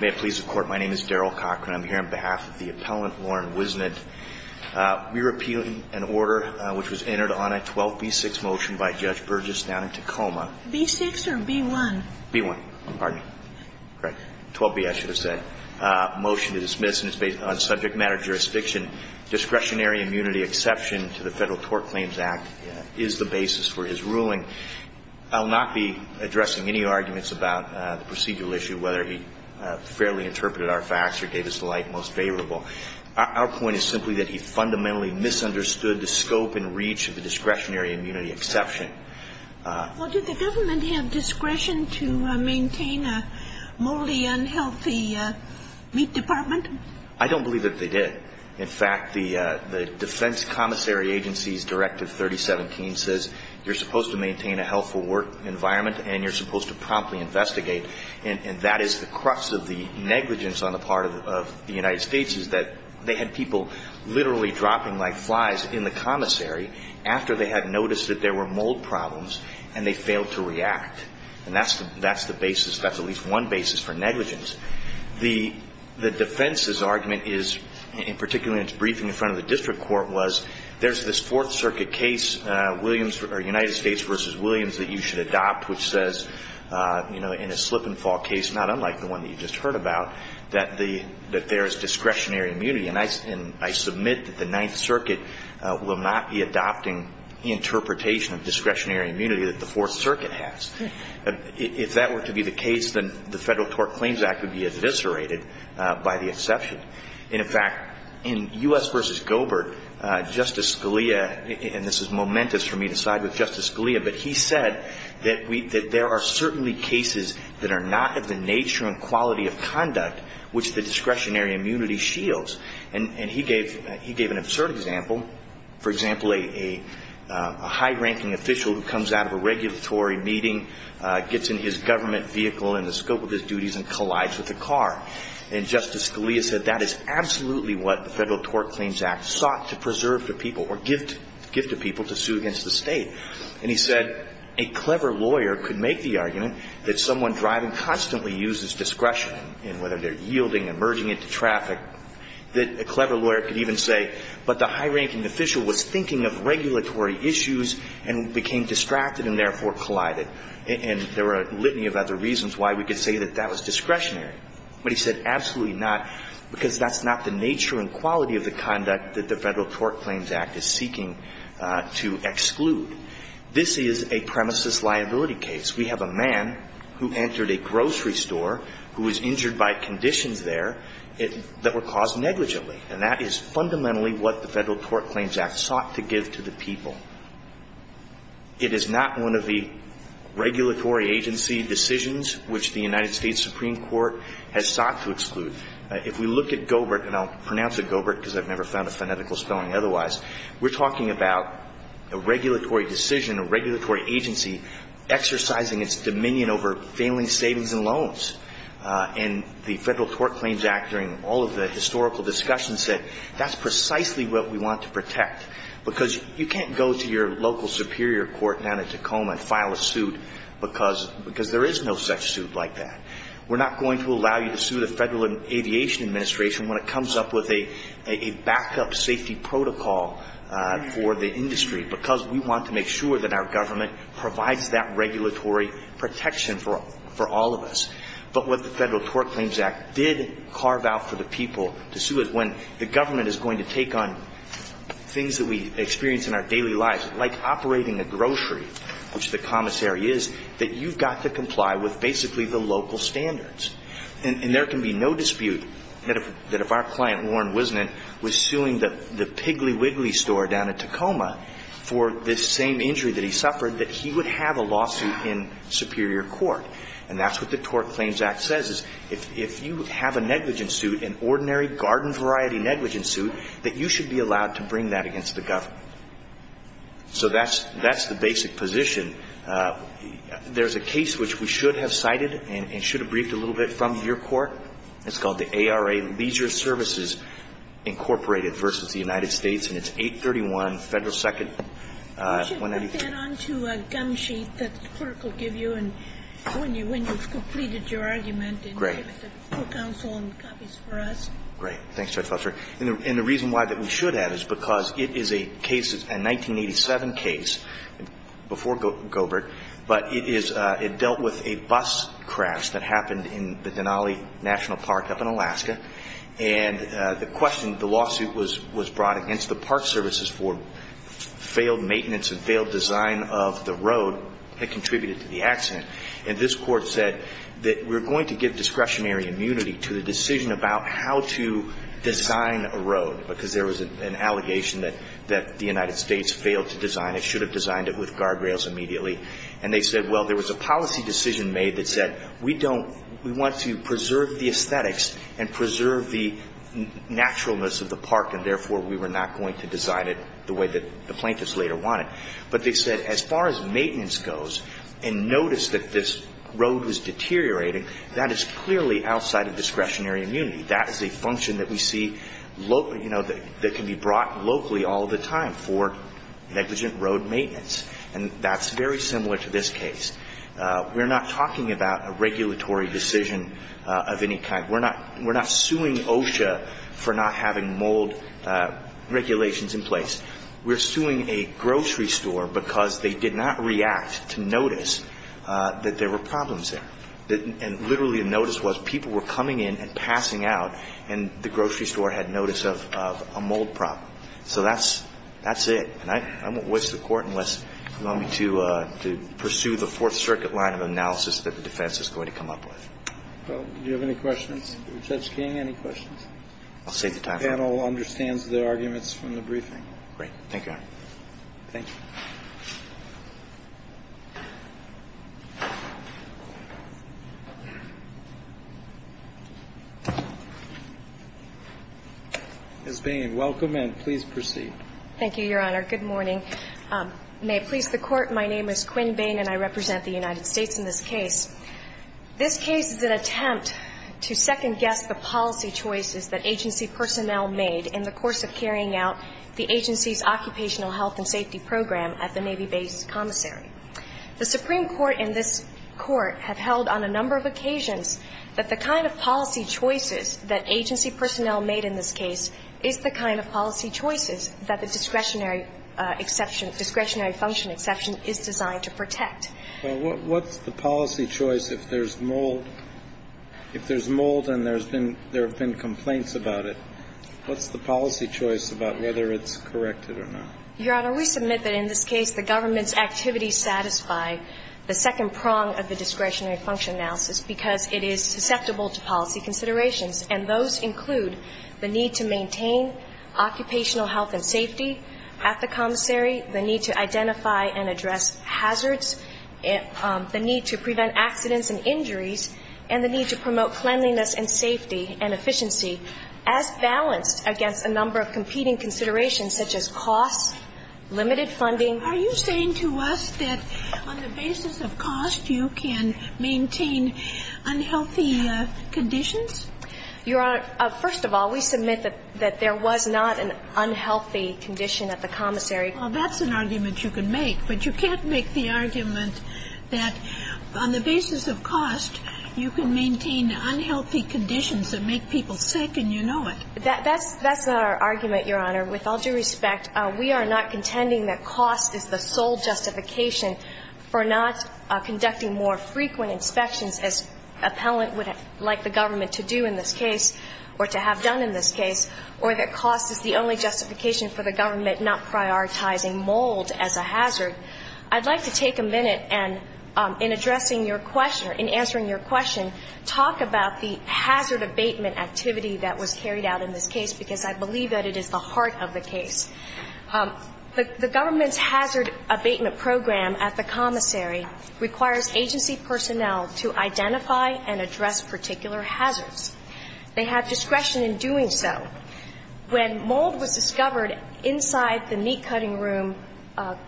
May it please the Court, my name is Daryl Cochran. I'm here on behalf of the appellant, Warren Wisnant. We're appealing an order which was entered on a 12b6 motion by Judge Burgess down in Tacoma. B6 or B1? B1. Pardon me. 12b, I should have said. Motion to dismiss, and it's based on subject matter jurisdiction. Discretionary immunity exception to the Federal Tort Claims Act is the basis for his ruling. I'll not be addressing any arguments about the procedural issue, whether he fairly interpreted our facts or gave us the light most favorable. Our point is simply that he fundamentally misunderstood the scope and reach of the discretionary immunity exception. Well, did the government have discretion to maintain a morally unhealthy meat department? I don't believe that they did. In fact, the Defense Commissary Agency's Directive 3017 says you're supposed to maintain a healthful work environment and you're supposed to promptly investigate. And that is the crux of the negligence on the part of the United States, is that they had people literally dropping like flies in the commissary after they had noticed that there were mold problems and they failed to react. And that's the basis. That's at least one basis for negligence. The defense's argument is, in particular in its briefing in front of the district court, was there's this Fourth Circuit case, Williams or United States v. Williams, that you should in a slip and fall case, not unlike the one that you just heard about, that there's discretionary immunity. And I submit that the Ninth Circuit will not be adopting interpretation of discretionary immunity that the Fourth Circuit has. If that were to be the case, then the Federal Tort Claims Act would be eviscerated by the exception. In fact, in U.S. v. Gobert, Justice Scalia, and this is momentous for me to side with Justice Scalia, but he said that there are certainly cases that are not of the nature and quality of conduct which the discretionary immunity shields. And he gave an absurd example. For example, a high-ranking official who comes out of a regulatory meeting gets in his government vehicle in the scope of his duties and collides with a car. And Justice Scalia said that is absolutely what the Federal Tort Claims Act sought to preserve to people or give to people to sue against the State. And he said a clever lawyer could make the argument that someone driving constantly uses discretion in whether they're yielding and merging into traffic, that a clever lawyer could even say, but the high-ranking official was thinking of regulatory issues and became distracted and therefore collided. And there are a litany of other reasons why we could say that that was discretionary. But he said absolutely not, because that's not the nature and quality of the conduct that the Federal Tort Claims Act is seeking to exclude. This is a premises liability case. We have a man who entered a grocery store who was injured by conditions there that were caused negligently, and that is fundamentally what the Federal Tort Claims Act sought to give to the people. It is not one of the regulatory agency decisions which the If we look at Goebert, and I'll pronounce it Goebert because I've never found a phonetical spelling otherwise, we're talking about a regulatory decision, a regulatory agency exercising its dominion over failing savings and loans. And the Federal Tort Claims Act, during all of the historical discussions, said that's precisely what we want to protect, because you can't go to your local superior court down in Tacoma and file a suit because there is no such suit like that. We're not going to sue the Federal Aviation Administration when it comes up with a backup safety protocol for the industry, because we want to make sure that our government provides that regulatory protection for all of us. But what the Federal Tort Claims Act did carve out for the people to sue is when the government is going to take on things that we experience in our daily lives, like operating a grocery, which the commissary is, that you've got to comply with basically the local standards. And there can be no dispute that if our client, Warren Wisnant, was suing the Piggly Wiggly store down in Tacoma for this same injury that he suffered, that he would have a lawsuit in superior court. And that's what the Tort Claims Act says, is if you have a negligence suit, an ordinary garden variety negligence suit, that you should be allowed to bring that against the government. So that's the basic position. There's a case which we should have cited and should have briefed a little bit from your court. It's called the ARA Leisure Services, Incorporated v. The United States, and it's 831 Federal 2nd. When I begin on to a gum sheet that the clerk will give you and when you've completed your argument and give it to counsel and copies for us. Great. Thanks, Judge Fletcher. And the reason why that we should have is because it is a case, a 1987 case, before Gobert, but it is – it dealt with a bus that happened in the Denali National Park up in Alaska. And the question, the lawsuit was brought against the Park Services for failed maintenance and failed design of the road that contributed to the accident. And this court said that we're going to give discretionary immunity to the decision about how to design a road, because there was an allegation that the United States failed to design it, should have designed it with guardrails immediately. And they said, well, there was a policy decision made that said, we don't – we want to preserve the aesthetics and preserve the naturalness of the park, and therefore, we were not going to design it the way that the plaintiffs later wanted. But they said, as far as maintenance goes, and notice that this road was deteriorating, that is clearly outside of discretionary immunity. That is a function that we see – that can be brought locally all the time for negligent road maintenance. And that's very We're not talking about a regulatory decision of any kind. We're not – we're not suing OSHA for not having mold regulations in place. We're suing a grocery store because they did not react to notice that there were problems there. And literally, the notice was people were coming in and passing out, and the grocery store had notice of a mold problem. So that's – that's it. And I won't waste the Court unless you want me to pursue the Fourth Circuit line of analysis that the defense is going to come up with. Well, do you have any questions for Judge King? Any questions? I'll save the time for that. The panel understands the arguments from the briefing. Great. Thank you, Your Honor. Thank you. Ms. Bain, welcome, and please proceed. Thank you, Your Honor. Good morning. May it please the Court, my name is Quinn Bain, and I represent the United States in this case. This case is an attempt to second-guess the policy choices that agency personnel made in the course of carrying out the agency's occupational health and safety program at the Navy Base Commissary. The Supreme Court and this Court have held on a number of occasions that the kind of policy choices that agency personnel made in this case is the kind of policy choices that the discretionary exception – discretionary function exception is designed to protect. Well, what's the policy choice if there's mold? If there's mold and there's been – there have been complaints about it, what's the policy choice about whether it's corrected or not? Your Honor, we submit that in this case the government's activities satisfy the second prong of the discretionary function analysis because it is susceptible to policy changes in the course of carrying out the agency's occupational health and safety at the commissary, the need to identify and address hazards, the need to prevent accidents and injuries, and the need to promote cleanliness and safety and efficiency as balanced against a number of competing considerations such as cost, limited funding. Are you saying to us that on the basis of cost you can maintain unhealthy conditions? Your Honor, first of all, we submit that there was not an unhealthy condition at the commissary. Well, that's an argument you can make, but you can't make the argument that on the basis of cost you can maintain unhealthy conditions that make people sick and you know it. That's not our argument, Your Honor. With all due respect, we are not contending that cost is the sole justification for not conducting more frequent inspections as appellant would like the government to do in this case or to have done in this case, or that cost is the only justification for the government not prioritizing mold as a hazard. I'd like to take a minute and in addressing your question, in answering your question, talk about the hazard abatement activity that was carried out in this case because I believe that it is the heart of the case. The government's hazard abatement program at the commissary requires agency personnel to identify and address particular hazards. They have discretion in doing so. When mold was discovered inside the meat-cutting room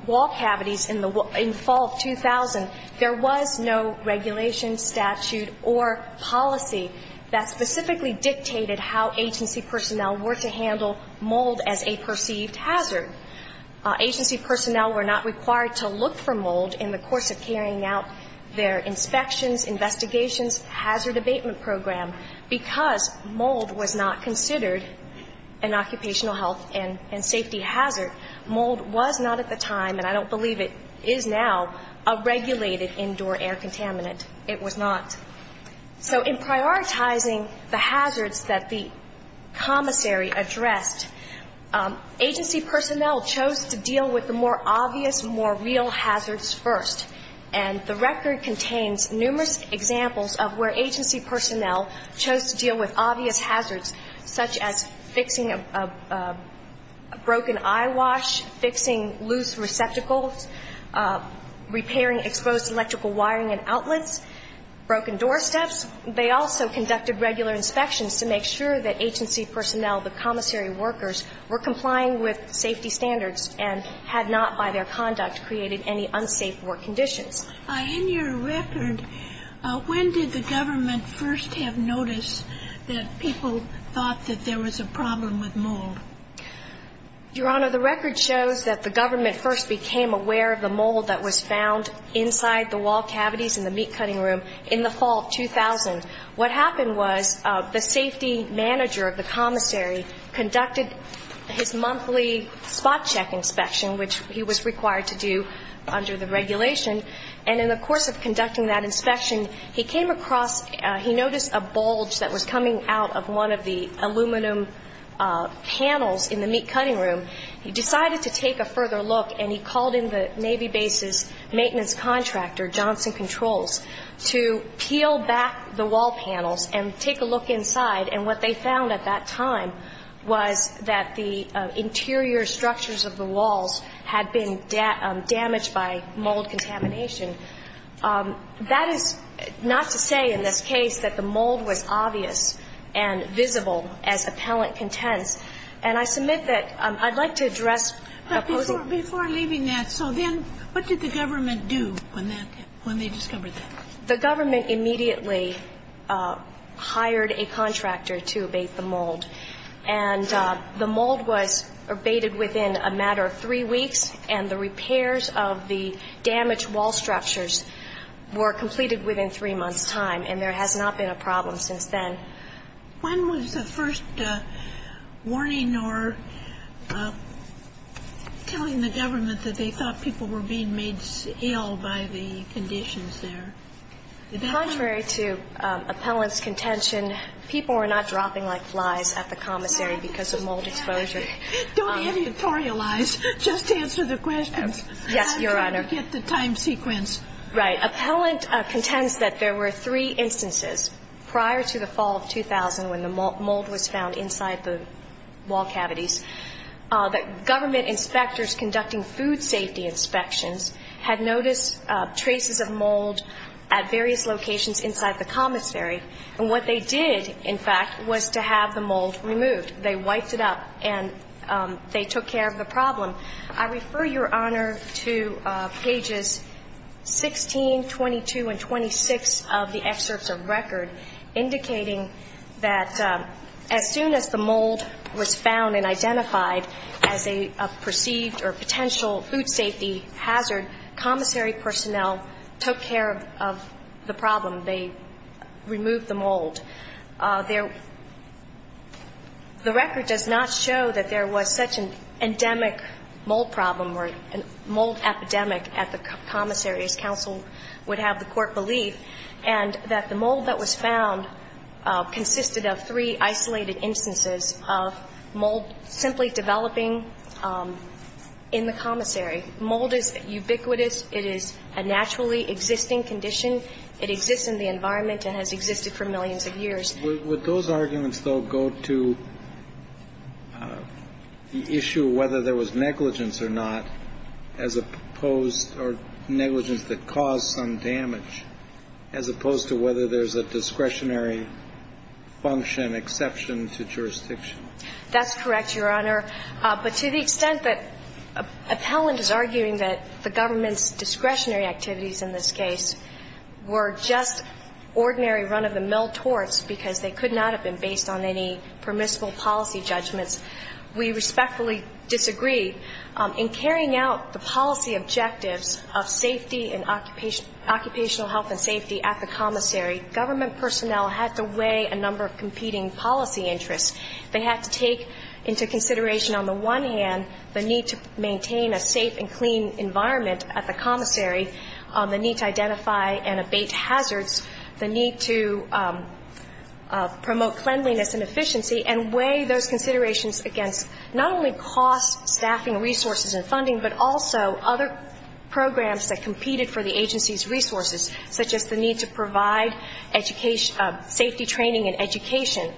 wall cavities in the fall of 2000, there was no regulation, statute, or policy that specifically dictated how agency personnel were to handle mold as a perceived hazard. Agency personnel were not required to look for mold in the course of carrying out their inspections, investigations, hazard abatement program because mold was not considered an occupational health and safety hazard. Mold was not at the time, and I don't believe it is now, a regulated indoor air contaminant. It was not. So in prioritizing the hazards that the commissary addressed, agency personnel chose to deal with the more obvious, more real hazards first. And the record contains numerous examples of where agency personnel chose to deal with obvious hazards such as fixing a broken eyewash, fixing loose receptacles, repairing exposed electrical wiring and outlets, broken doorsteps. They also conducted regular inspections to make sure that agency personnel, the commissary workers, were complying with safety standards and had not, by their conduct, created any unsafe work conditions. In your record, when did the government first have notice that people thought that there was a problem with mold? Your Honor, the record shows that the government first became aware of the mold that was found inside the wall cavities in the meat-cutting room in the fall of 2000. What happened was the safety manager of the commissary conducted his monthly spot check inspection, which he was required to do under the regulation, and in the course of conducting that inspection, he came across, he noticed a bulge that was coming out of one of the aluminum panels in the meat-cutting room. He decided to take a further look, and he called in the Navy base's maintenance contractor, Johnson Controls, to peel back the wall panels and take a look inside, and what they found at that time was that the interior structures of the walls had been damaged by mold contamination. That is not to say, in this case, that the mold was obvious and visible as appellant contents, and I submit that I'd like to address opposing ---- When they discovered that. The government immediately hired a contractor to abate the mold, and the mold was abated within a matter of three weeks, and the repairs of the damaged wall structures were completed within three months' time, and there has not been a problem since then. When was the first warning or telling the government that they thought people were being made ill by the conditions there? Contrary to appellant's contention, people were not dropping like flies at the commissary because of mold exposure. Don't editorialize. Just answer the questions. Yes, Your Honor. I'm trying to get the time sequence. Right. Appellant contends that there were three instances prior to the fall of 2000 when the mold was found inside the wall cavities that government inspectors conducting food safety inspections had noticed traces of mold at various locations inside the commissary, and what they did, in fact, was to have the mold removed. They wiped it up, and they took care of the problem. I refer, Your Honor, to pages 16, 22, and 26 of the excerpts of record, indicating that as soon as the mold was found and identified as a perceived or potential food safety hazard, commissary personnel took care of the problem. They removed the mold. The record does not show that there was such an endemic mold problem or mold epidemic at the commissary, as counsel would have the court believe, and that the mold that was found consisted of three isolated instances of mold simply developing in the commissary. Mold is ubiquitous. It is a naturally existing condition. It exists in the environment and has existed for millions of years. Would those arguments, though, go to the issue of whether there was negligence or not as opposed or negligence that caused some damage, as opposed to whether there's a discretionary function exception to jurisdiction? That's correct, Your Honor. But to the extent that appellant is arguing that the government's discretionary activities in this case were just ordinary run-of-the-mill torts because they could not have been based on any permissible policy judgments, we respectfully disagree in carrying out the policy objectives of safety and occupational health and safety at the commissary. Government personnel had to weigh a number of competing policy interests. They had to take into consideration, on the one hand, the need to maintain a safe and clean environment at the commissary, the need to identify and abate hazards, the need to promote cleanliness and efficiency, and weigh those considerations against not only cost, staffing, resources, and funding, but also other programs that competed for the agency's resources, such as the need to provide safety training and education.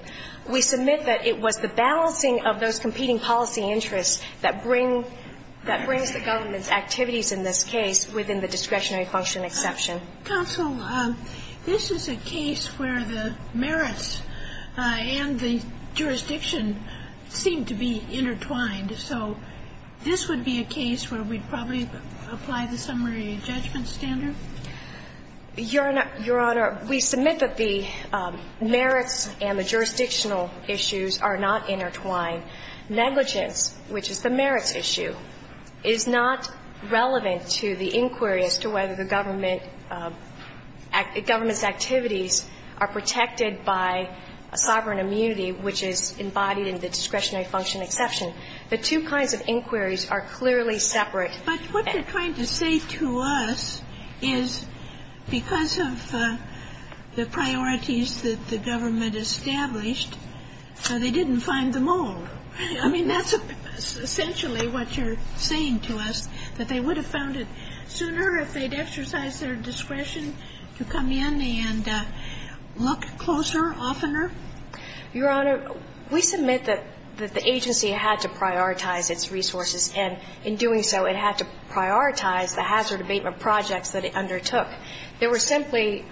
We submit that it was the balancing of those competing policy interests that brings the government's activities in this case within the discretionary function exception. Counsel, this is a case where the merits and the jurisdiction seem to be intertwined. Negligence, which is the merits issue, is not relevant to the inquiry as to whether the government's activities are protected by a sovereign immunity, which is embodied in the discretionary function exception. The two kinds of inquiries are clearly separate. But what they're trying to say to us is because of the priorities that the government established, they didn't find them all. I mean, that's essentially what you're saying to us, that they would have found it sooner if they'd exercised their discretion to come in and look closer, oftener. Your Honor, we submit that the agency had to prioritize its resources, and in doing so, it had to prioritize the hazard abatement projects that it undertook. There were simply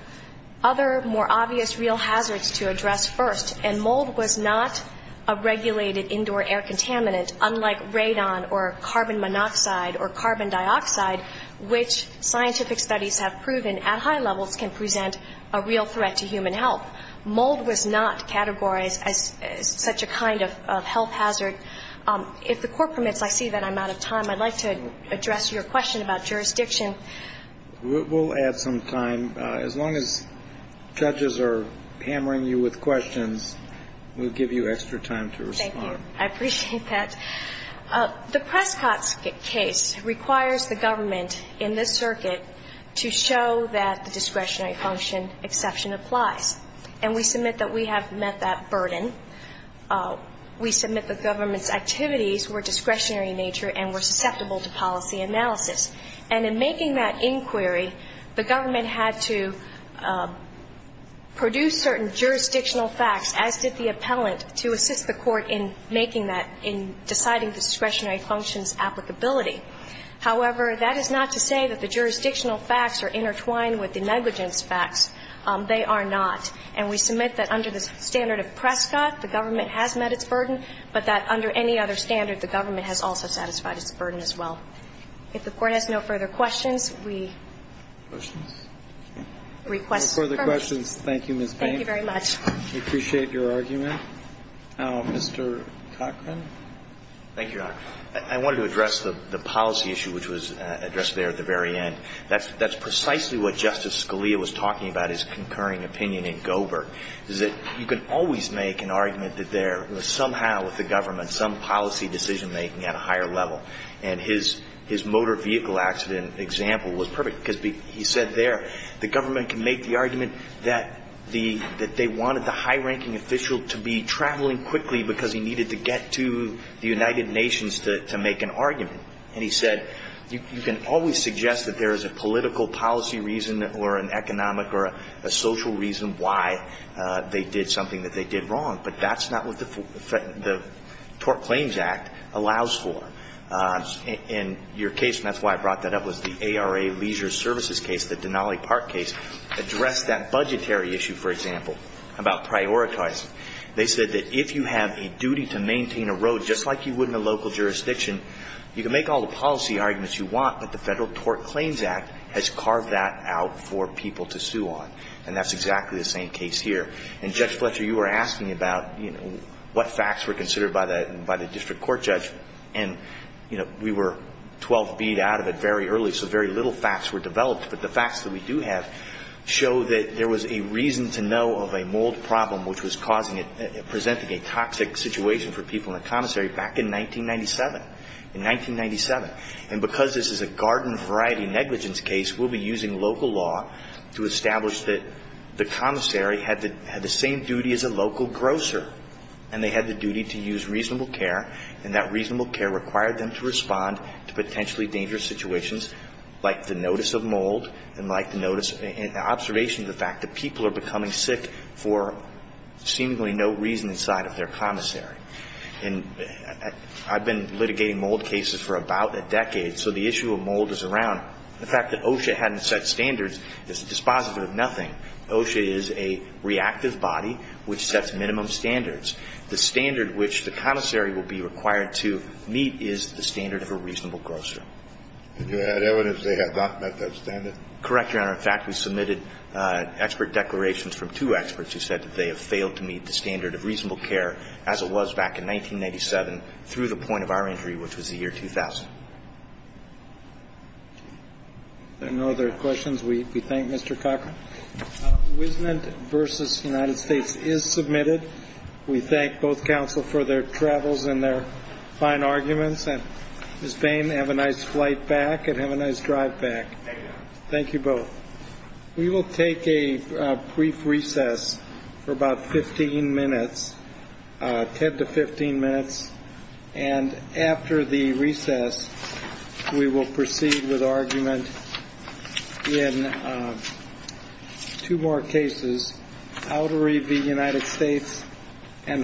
other, more obvious real hazards to address first. And mold was not a regulated indoor air contaminant, unlike radon or carbon monoxide or carbon dioxide, which scientific studies have proven at high levels can present a real threat to human health. Mold was not categorized as such a kind of health hazard. If the Court permits, I see that I'm out of time. I'd like to address your question about jurisdiction. We'll add some time. As long as judges are hammering you with questions, we'll give you extra time to respond. Thank you. I appreciate that. The Prescott case requires the government in this circuit to show that the discretionary function exception applies. And we submit that we have met that burden. We submit that government's activities were discretionary in nature and were susceptible to policy analysis. And in making that inquiry, the government had to produce certain jurisdictional facts, as did the appellant, to assist the Court in making that, in deciding the discretionary function's applicability. However, that is not to say that the jurisdictional facts are intertwined with the negligence facts. They are not. And we submit that under the standard of Prescott, the government has met its burden, but that under any other standard, the government has also satisfied its burden as well. If the Court has no further questions, we request permission. No further questions. Thank you, Ms. Payne. Thank you very much. We appreciate your argument. Mr. Cochran. Thank you, Your Honor. I wanted to address the policy issue, which was addressed there at the very end. That's precisely what Justice Scalia was talking about, his concurring opinion in Gobert, is that you can always make an argument that there was somehow with the government some policy decision-making at a higher level. And his motor vehicle accident example was perfect, because he said there the government can make the argument that they wanted the high-ranking official to be traveling quickly because he needed to get to the United Nations to make an argument. And he said you can always suggest that there is a political policy reason or an economic or a social reason why they did something that they did wrong, but that's not what the Tort Claims Act allows for. And your case, and that's why I brought that up, was the ARA Leisure Services case, the Denali Park case, addressed that budgetary issue, for example, about prioritizing. They said that if you have a duty to maintain a road just like you would in a local jurisdiction, you can make all the policy arguments you want, but the Federal Tort Claims Act has carved that out for people to sue on. And that's exactly the same case here. And, Judge Fletcher, you were asking about, you know, what facts were considered by the district court judge. And, you know, we were 12 feet out of it very early, so very little facts were developed. But the facts that we do have show that there was a reason to know of a mold problem which was causing it, presenting a toxic situation for people in the commissary in 1997. In 1997. And because this is a garden variety negligence case, we'll be using local law to establish that the commissary had the same duty as a local grocer, and they had the duty to use reasonable care, and that reasonable care required them to respond to potentially dangerous situations like the notice of mold and like the notice and observation of the fact that people are becoming sick for seemingly no reason inside of their commissary. And I've been litigating mold cases for about a decade, so the issue of mold is around the fact that OSHA hadn't set standards. It's a dispositive of nothing. OSHA is a reactive body which sets minimum standards. The standard which the commissary will be required to meet is the standard of a reasonable grocer. And you had evidence they had not met that standard? Correct, Your Honor. In fact, we submitted expert declarations from two experts who said that they have failed to meet the standard of reasonable care as it was back in 1997 through the point of our injury, which was the year 2000. Are there no other questions? We thank Mr. Cochran. Wisnant v. United States is submitted. We thank both counsel for their travels and their fine arguments. And Ms. Bain, have a nice flight back and have a nice drive back. Thank you, Your Honor. Thank you both. We will take a brief recess for about 15 minutes, 10 to 15 minutes. And after the recess, we will proceed with argument in two more cases, Ottery v. United States and